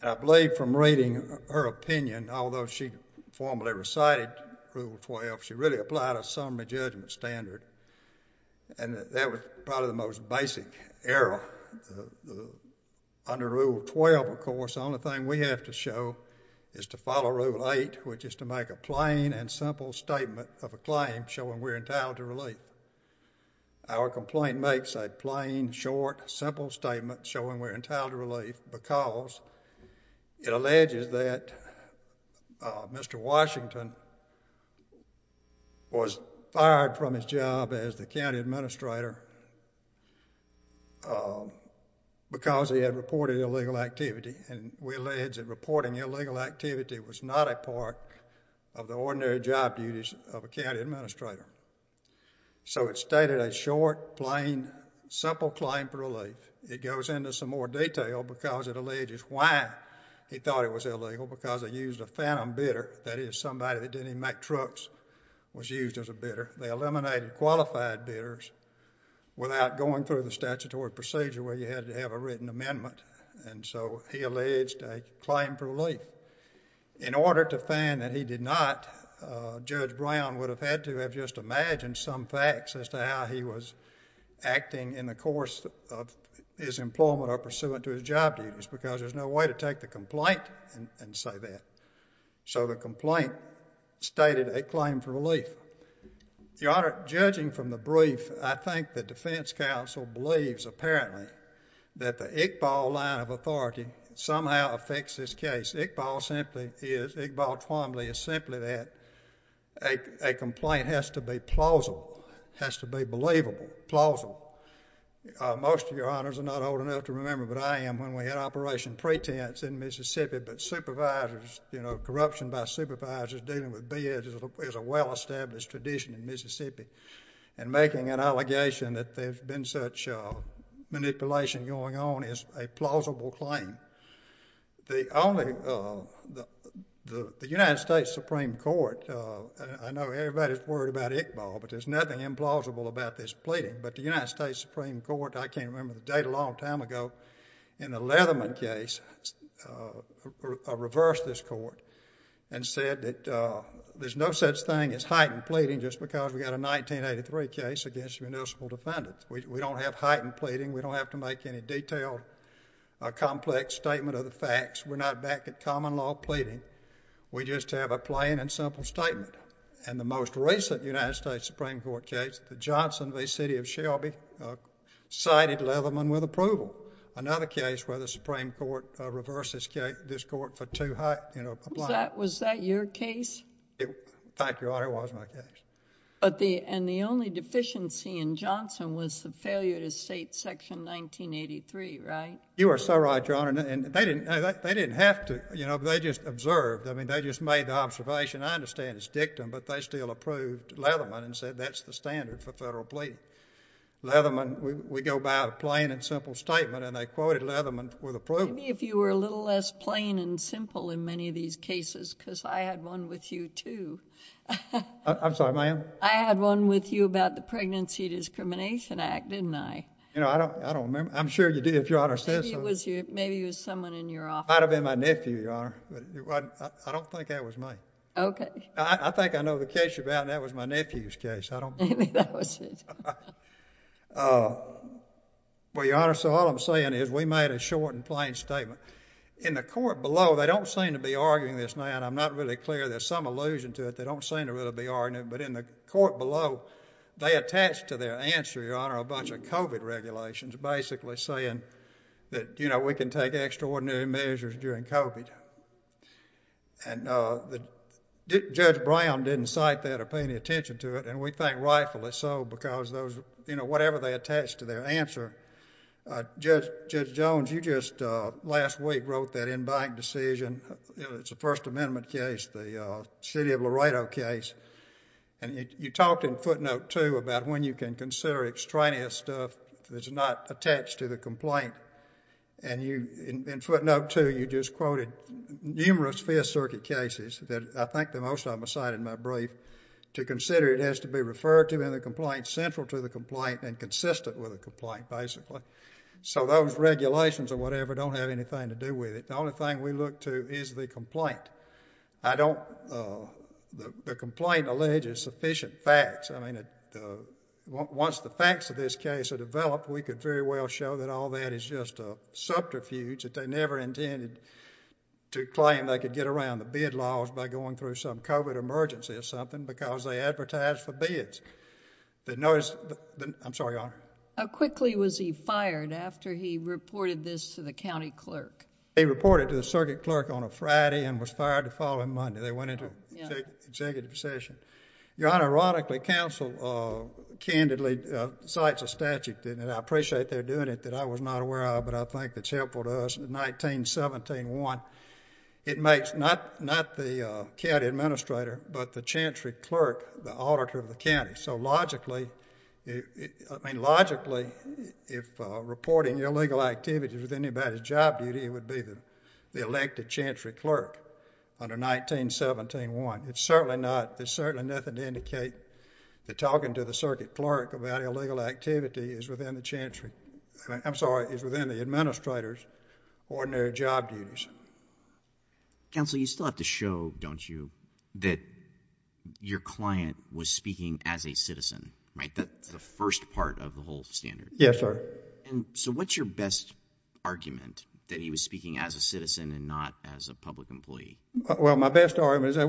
And I believe from reading her opinion, although she formally recited Rule 12, she really applied a summary judgment standard. And that was probably the most basic error. Under Rule 12, of course, the only thing we have to show is to follow Rule 8, which is to make a plain and simple statement of a claim showing we're entitled to relief. Our complaint makes a plain, short, simple statement showing we're entitled to relief because it alleges that Mr. Washington was fired from his job as the county administrator because he had reported illegal activity, and we allege that reporting illegal activity was not a part of the ordinary job duties of a county administrator. So it stated a short, plain, simple claim for relief. It goes into some more detail because it alleges why he thought it was illegal, because they used a phantom bidder, that is, somebody that didn't even make trucks was used as a bidder. They eliminated qualified bidders without going through the statutory procedure where you had to have a written amendment. And so he alleged a claim for relief. In order to find that he did not, Judge Brown would have had to have just imagined some facts as to how he was acting in the course of his employment or pursuant to his job duties because there's no way to take the complaint and say that. So the complaint stated a claim for relief. Your Honor, judging from the brief, I think the defense counsel believes, apparently, that the Iqbal line of authority somehow affects this case. Iqbal Twombly is simply that a complaint has to be plausible, has to be believable, plausible. Most of your Honors are not old enough to remember, but I am, when we had Operation Pretense in Mississippi. But supervisors, you know, corruption by supervisors dealing with bids is a well-established tradition in Mississippi. And making an allegation that there's been such manipulation going on is a plausible claim. The only, the United States Supreme Court, I know everybody's worried about Iqbal, but there's nothing implausible about this pleading. But the United States Supreme Court, I can't remember the date, a long time ago, in the Leatherman case, reversed this court and said that there's no such thing as heightened pleading just because we got a 1983 case against municipal defendants. We don't have heightened pleading. We don't have to make any detailed, complex statement of the facts. We're not back at common law pleading. We just have a plain and simple statement. And the most recent United States Supreme Court case, the Johnson v. City of Shelby, cited Leatherman with approval. Another case where the Supreme Court reversed this case, this court for too high, you know, compliance. Was that your case? Thank you, Your Honor, it was my case. But the, and the only deficiency in Johnson was the failure to state Section 1983, right? You are so right, Your Honor. And they didn't, they didn't have to, you know, they just observed. I mean, they just made the observation, I understand it's dictum, but they still approved Leatherman and said that's the standard for federal pleading. Leatherman, we go by a plain and simple statement and they quoted Leatherman with approval. Maybe if you were a little less plain and simple in many of these cases because I had one with you too. I'm sorry, ma'am? I had one with you about the Pregnancy Discrimination Act, didn't I? You know, I don't remember. I'm sure you did if Your Honor said so. Maybe it was someone in your office. It might have been my nephew, Your Honor. I don't think that was me. Okay. I think I know the case you're about and that was my nephew's case. I don't know. Maybe that was it. Well, Your Honor, so all I'm saying is we made a short and plain statement. In the court below, they don't seem to be arguing this now, and I'm not really clear. There's some allusion to it. They don't seem to really be arguing it, but in the court below, they attached to their answer, Your Honor, a bunch of COVID regulations basically saying that, you know, we can take extraordinary measures during COVID. And Judge Brown didn't cite that or pay any attention to it, and we think rightfully so because those, you know, whatever they attached to their answer. Judge Jones, you just last week wrote that in-bank decision. It's a First Amendment case, the city of Laredo case, and you talked in footnote two about when you can consider extraneous stuff that's not attached to the complaint. And in footnote two, you just quoted numerous Fifth Circuit cases that I think the most of them are cited in my brief to consider it as to be referred to in the complaint, central to the complaint, and consistent with the complaint basically. So those regulations or whatever don't have anything to do with it. The only thing we look to is the complaint. I don't—the complaint alleges sufficient facts. I mean, once the facts of this case are developed, we could very well show that all that is just a subterfuge, that they never intended to claim they could get around the bid laws by going through some COVID emergency or something because they advertised for bids. The notice—I'm sorry, Your Honor. How quickly was he fired after he reported this to the county clerk? He reported to the circuit clerk on a Friday and was fired the following Monday. They went into executive session. Your Honor, ironically, counsel candidly cites a statute, and I appreciate they're doing it, that I was not aware of but I think that's helpful to us. In 1917-1, it makes not the county administrator but the chancery clerk the auditor of the county. So logically—I mean, logically, if reporting illegal activities with anybody's job duty, it would be the elected chancery clerk under 1917-1. It's certainly not—there's certainly nothing to indicate that talking to the circuit clerk about illegal activity is within the chancery—I'm sorry, is within the administrator's ordinary job duties. Counsel, you still have to show, don't you, that your client was speaking as a citizen, right? That's the first part of the whole standard. Yes, sir. And so what's your best argument, that he was speaking as a citizen and not as a public employee? Well, my best argument is that's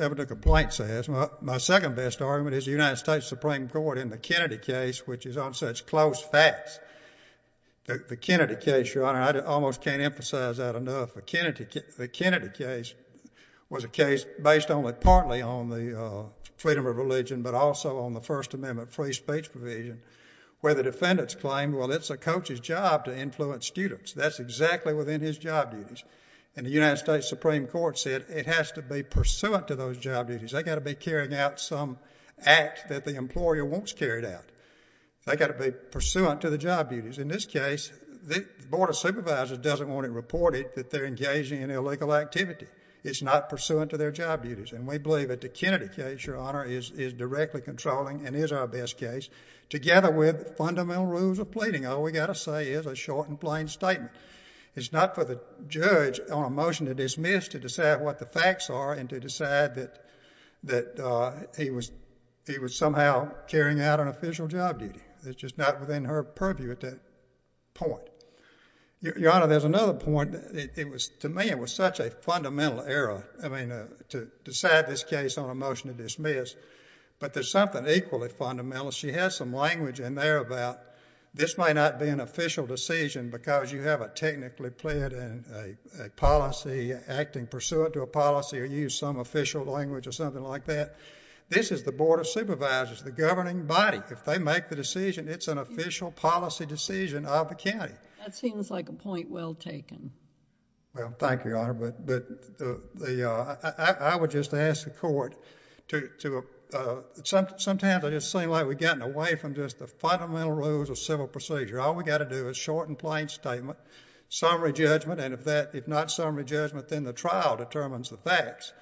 what the complaint says. My second best argument is the United States Supreme Court in the Kennedy case, which is on such close facts—the Kennedy case, Your Honor, I almost can't emphasize that enough. The Kennedy case was a case based only partly on the freedom of religion but also on the First Amendment free speech provision where the defendants claimed, well, it's a coach's job to influence students. That's exactly within his job duties. And the United States Supreme Court said it has to be pursuant to those job duties. They've got to be carrying out some act that the employer wants carried out. They've got to be pursuant to the job duties. In this case, the Board of Supervisors doesn't want it reported that they're engaging in illegal activity. It's not pursuant to their job duties. And we believe that the Kennedy case, Your Honor, is directly controlling and is our best case, together with fundamental rules of pleading. All we've got to say is a short and plain statement. It's not for the judge on a motion to dismiss to decide what the facts are and to decide that he was somehow carrying out an official job duty. It's just not within her purview at that point. Your Honor, there's another point. To me, it was such a fundamental error, I mean, to decide this case on a motion to dismiss. But there's something equally fundamental. She has some language in there about this might not be an official decision because you have a technically plead and a policy acting pursuant to a policy or use some official language or something like that. This is the Board of Supervisors, the governing body. If they make the decision, it's an official policy decision of the county. That seems like a point well taken. Well, thank you, Your Honor. I would just ask the court to, sometimes it just seems like we've gotten away from just the fundamental rules of civil procedure. All we've got to do is a short and plain statement, summary judgment. And if not summary judgment, then the trial determines the facts.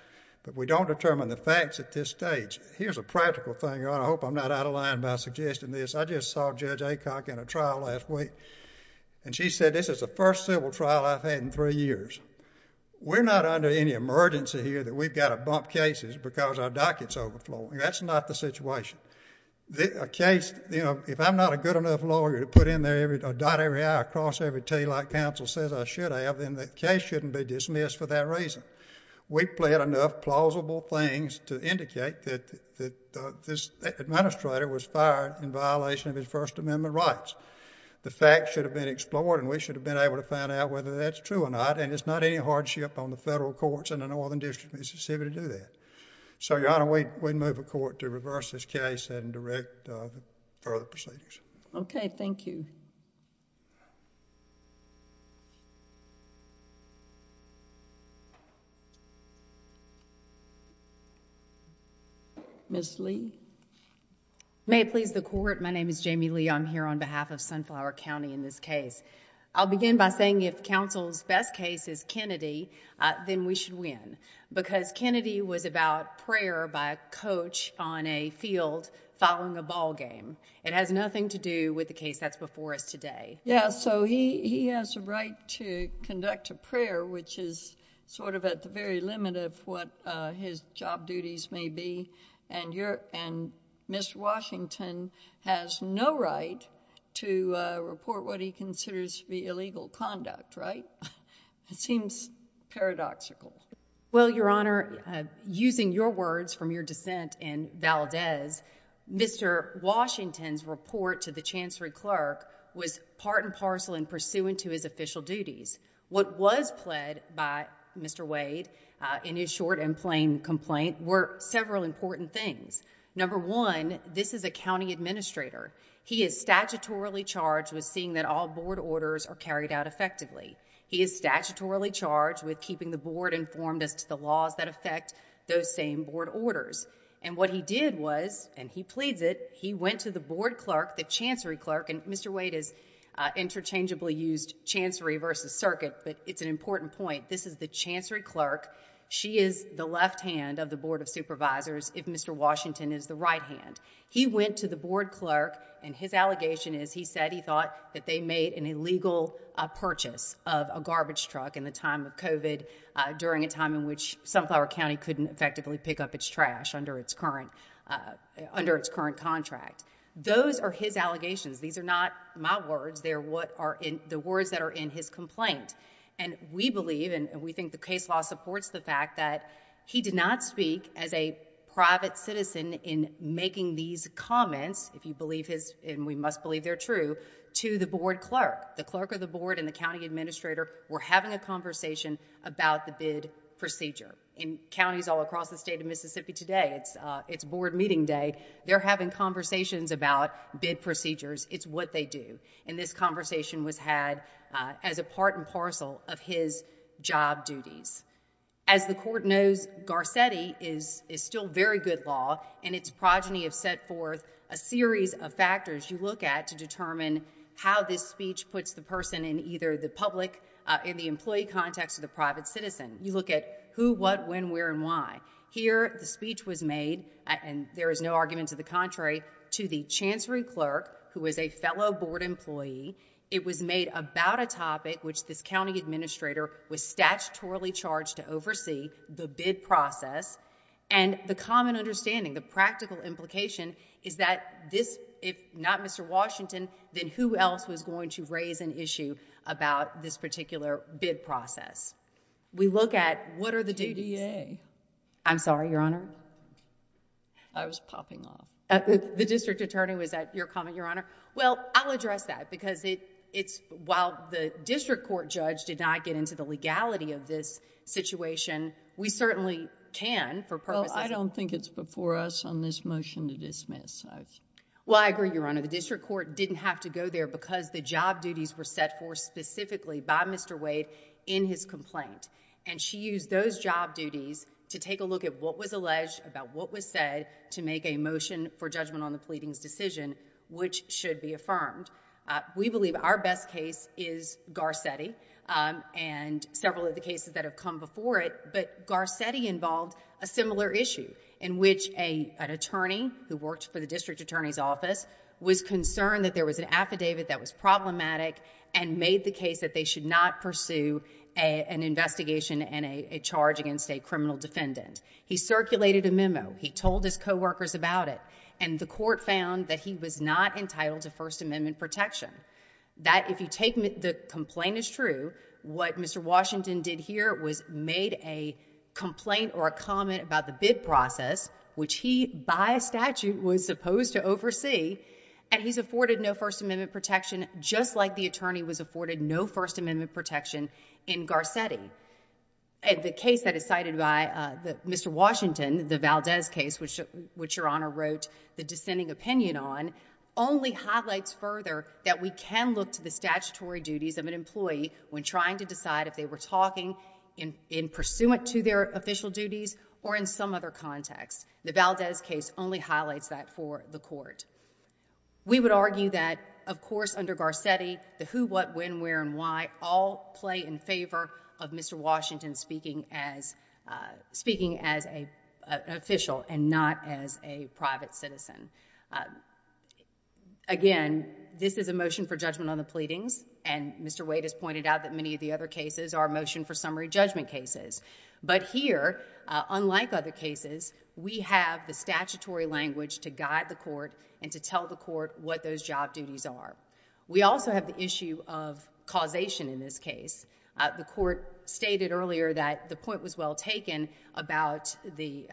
But we don't determine the facts at this stage. Here's a practical thing, Your Honor. I hope I'm not out of line by suggesting this. I just saw Judge Aycock in a trial last week. And she said this is the first civil trial I've had in three years. We're not under any emergency here that we've got to bump cases because our docket's overflowing. That's not the situation. A case, you know, if I'm not a good enough lawyer to put in there a dot every I, a cross every T like counsel says I should have, then the case shouldn't be dismissed for that reason. We've pled enough plausible things to indicate that this administrator was fired in violation of his First Amendment rights. The facts should have been explored and we should have been able to find out whether that's true or not. And it's not any hardship on the federal courts in the Northern District of Mississippi to do that. So, Your Honor, we move a court to reverse this case and direct further procedures. Okay. Thank you. Ms. Lee. May it please the Court. My name is Jamie Lee. I'm here on behalf of Sunflower County in this case. I'll begin by saying if counsel's best case is Kennedy, then we should win. Because Kennedy was about prayer by a coach on a field following a ball game. It has nothing to do with the case that's before us today. Yeah, so he has a right to conduct a prayer, which is sort of at the very limit of what his job duties may be. And Mr. Washington has no right to report what he considers to be illegal conduct, right? It seems paradoxical. Well, Your Honor, using your words from your dissent in Valdez, Mr. Washington's report to the chancery clerk was part and parcel and pursuant to his official duties. What was pled by Mr. Wade in his short and plain complaint were several important things. Number one, this is a county administrator. He is statutorily charged with seeing that all board orders are carried out effectively. He is statutorily charged with keeping the board informed as to the laws that affect those same board orders. And what he did was, and he pleads it, he went to the board clerk, the chancery clerk, and Mr. Wade has interchangeably used chancery versus circuit, but it's an important point. This is the chancery clerk. She is the left hand of the board of supervisors. If Mr. Washington is the right hand, he went to the board clerk and his allegation is he said he thought that they made an illegal purchase of a garbage truck in the time of COVID during a time in which Sunflower County couldn't effectively pick up its trash under its current under its current contract. Those are his allegations. These are not my words. They are the words that are in his complaint. And we believe and we think the case law supports the fact that he did not speak as a private citizen in making these comments, if you believe his, and we must believe they're true, to the board clerk. The clerk of the board and the county administrator were having a conversation about the bid procedure. In counties all across the state of Mississippi today, it's board meeting day, they're having conversations about bid procedures. It's what they do. And this conversation was had as a part and parcel of his job duties. As the court knows, Garcetti is still very good law and its progeny have set forth a series of factors you look at to determine how this speech puts the person in either the public, in the employee context, or the private citizen. You look at who, what, when, where, and why. Here, the speech was made, and there is no argument to the contrary, to the chancery clerk, who is a fellow board employee. It was made about a topic which this county administrator was statutorily charged to oversee, the bid process. And the common understanding, the practical implication, is that this, if not Mr. Washington, then who else was going to raise an issue about this particular bid process? We look at what are the duties... J.D.A. I'm sorry, Your Honor. I was popping off. The district attorney, was that your comment, Your Honor? Well, I'll address that because it's, while the district court judge did not get into the legality of this situation, we certainly can for purposes... Well, I don't think it's before us on this motion to dismiss. Well, I agree, Your Honor. The district court didn't have to go there because the job duties were set forth specifically by Mr. Wade in his complaint. And, she used those job duties to take a look at what was alleged, about what was said, to make a motion for judgment on the pleadings decision, which should be affirmed. We believe our best case is Garcetti, and several of the cases that have come before it. But, Garcetti involved a similar issue in which an attorney who worked for the district attorney's office was concerned that there was an affidavit that was problematic and made the case that they should not pursue an investigation and a charge against a criminal defendant. He circulated a memo. He told his coworkers about it. And, the court found that he was not entitled to First Amendment protection. That, if you take the complaint as true, what Mr. Washington did here was made a complaint or a comment about the bid process, which he, by statute, was supposed to oversee. And, he's afforded no First Amendment protection, just like the attorney was afforded no First Amendment protection in Garcetti. The case that is cited by Mr. Washington, the Valdez case, which Your Honor wrote the dissenting opinion on, only highlights further that we can look to the statutory duties of an employee when trying to decide if they were talking in pursuant to their official duties or in some other context. The Valdez case only highlights that for the court. We would argue that, of course, under Garcetti, the who, what, when, where, and why all play in favor of Mr. Washington speaking as an official and not as a private citizen. Again, this is a motion for judgment on the pleadings, and Mr. Wade has pointed out that many of the other cases are motion for summary judgment cases. But here, unlike other cases, we have the statutory language to guide the court and to tell the court what those job duties are. We also have the issue of causation in this case. The court stated earlier that the point was well taken about the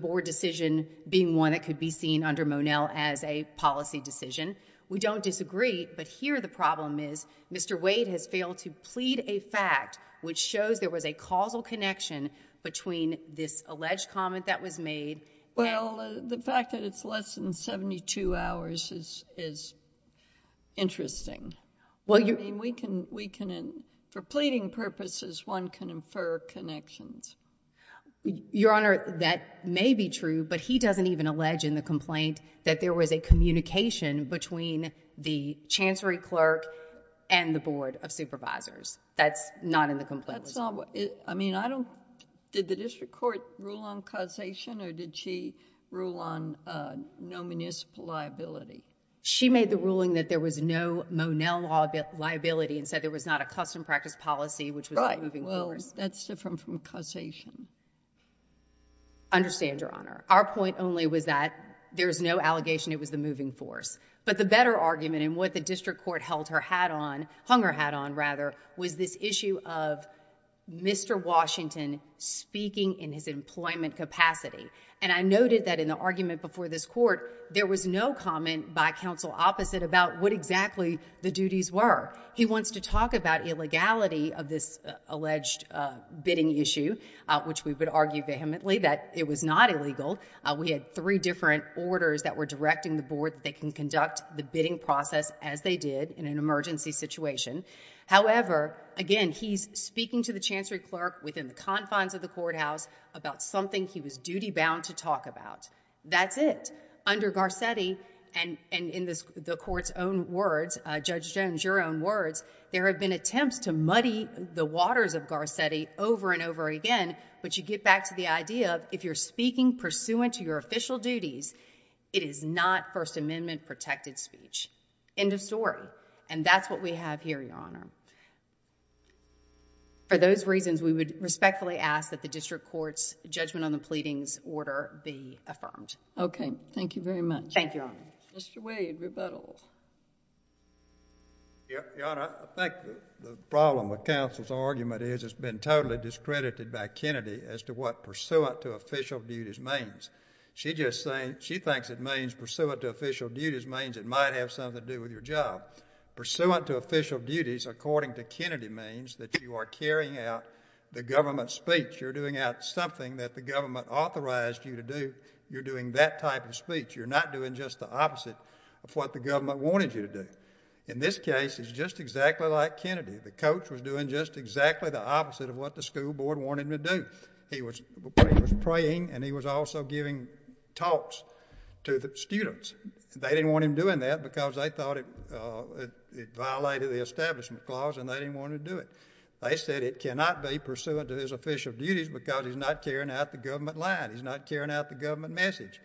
board decision being one that could be seen under Monell as a policy decision. We don't disagree, but here the problem is Mr. Wade has failed to plead a fact which shows there was a causal connection between this alleged comment that was made and- Well, the fact that it's less than 72 hours is interesting. Well, you- I mean, we can, for pleading purposes, one can infer connections. Your Honor, that may be true, but he doesn't even allege in the complaint that there was a communication between the chancery clerk and the board of supervisors. That's not in the complaint. That's not what, I mean, I don't, did the district court rule on causation or did she rule on no municipal liability? She made the ruling that there was no Monell liability and said there was not a custom practice policy which was- Right. Well, that's different from causation. I understand, Your Honor. Our point only was that there's no allegation it was the moving force. But the better argument and what the district court held her hat on, hung her hat on rather, was this issue of Mr. Washington speaking in his employment capacity. And I noted that in the argument before this court, there was no comment by counsel opposite about what exactly the duties were. He wants to talk about illegality of this alleged bidding issue, which we would argue vehemently that it was not illegal. We had three different orders that were directing the board that they can conduct the bidding process as they did in an emergency situation. However, again, he's speaking to the chancery clerk within the confines of the courthouse about something he was duty bound to talk about. That's it. Under Garcetti, and in the court's own words, Judge Jones, your own words, there have been attempts to muddy the waters of Garcetti over and over again. But you get back to the idea of if you're speaking pursuant to your official duties, it is not First Amendment protected speech. End of story. And that's what we have here, Your Honor. For those reasons, we would respectfully ask that the district court's judgment on the pleadings order be affirmed. Okay. Thank you very much. Thank you, Your Honor. Mr. Wade, rebuttal. Your Honor, I think the problem with counsel's argument is it's been totally discredited by Kennedy as to what pursuant to official duties means. She thinks it means pursuant to official duties means it might have something to do with your job. Pursuant to official duties, according to Kennedy, means that you are carrying out the government's speech. You're doing out something that the government authorized you to do. You're doing that type of speech. You're not doing just the opposite of what the government wanted you to do. In this case, it's just exactly like Kennedy. The coach was doing just exactly the opposite of what the school board wanted him to do. He was praying, and he was also giving talks to the students. They didn't want him doing that because they thought it violated the establishment clause, and they didn't want him to do it. They said it cannot be pursuant to his official duties because he's not carrying out the government line. He's not carrying out the government message.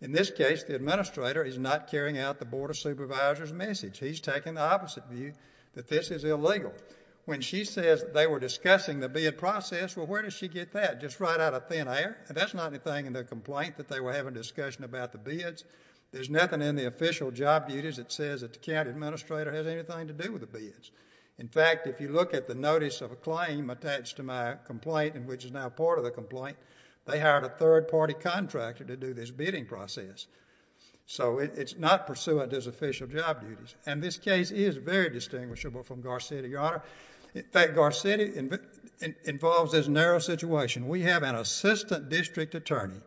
In this case, the administrator is not carrying out the board of supervisors' message. He's taking the opposite view that this is illegal. When she says they were discussing the bid process, well, where does she get that? Just right out of thin air? That's not anything in the complaint that they were having a discussion about the bids. There's nothing in the official job duties that says that the county administrator has anything to do with the bids. In fact, if you look at the notice of a claim attached to my complaint, which is now part of the complaint, they hired a third-party contractor to do this bidding process. So it's not pursuant to his official job duties. And this case is very distinguishable from Garcetti, Your Honor. In fact, Garcetti involves this narrow situation. We have an assistant district attorney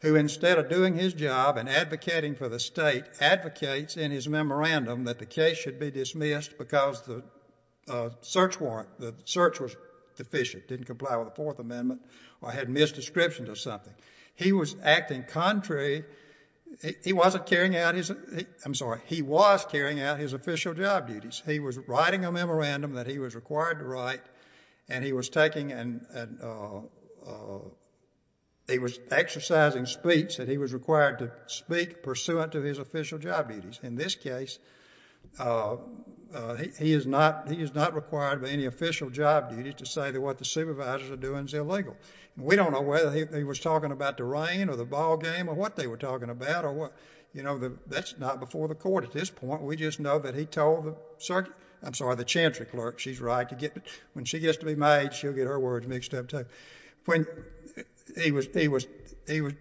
who, instead of doing his job and advocating for the state, advocates in his memorandum that the case should be dismissed because the search warrant, the search was deficient, didn't comply with the Fourth Amendment, or had misdescription to something. He was acting contrary. He wasn't carrying out his, I'm sorry, he was carrying out his official job duties. He was writing a memorandum that he was required to write, and he was taking and he was exercising speech that he was required to speak pursuant to his official job duties. In this case, he is not required by any official job duties to say that what the supervisors are doing is illegal. We don't know whether he was talking about the rain or the ball game or what they were talking about. You know, that's not before the court at this point. We just know that he told the circuit, I'm sorry, the chancery clerk she's right to get, when she gets to be made, she'll get her words mixed up too. When he was, he was, he was,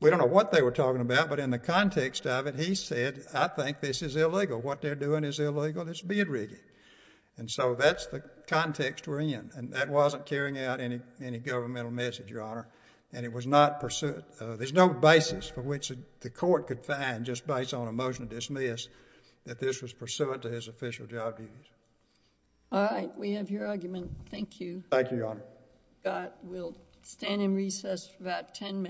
we don't know what they were talking about, but in the context of it, he said, I think this is illegal. What they're doing is illegal. This is beard rigging. And so that's the context we're in. And that wasn't carrying out any governmental message, Your Honor. And it was not pursuant, there's no basis for which the court could find just based on a motion to dismiss that this was pursuant to his official job duties. All right. We have your argument. Thank you. Thank you, Your Honor. We'll stand in recess for about 10 minutes.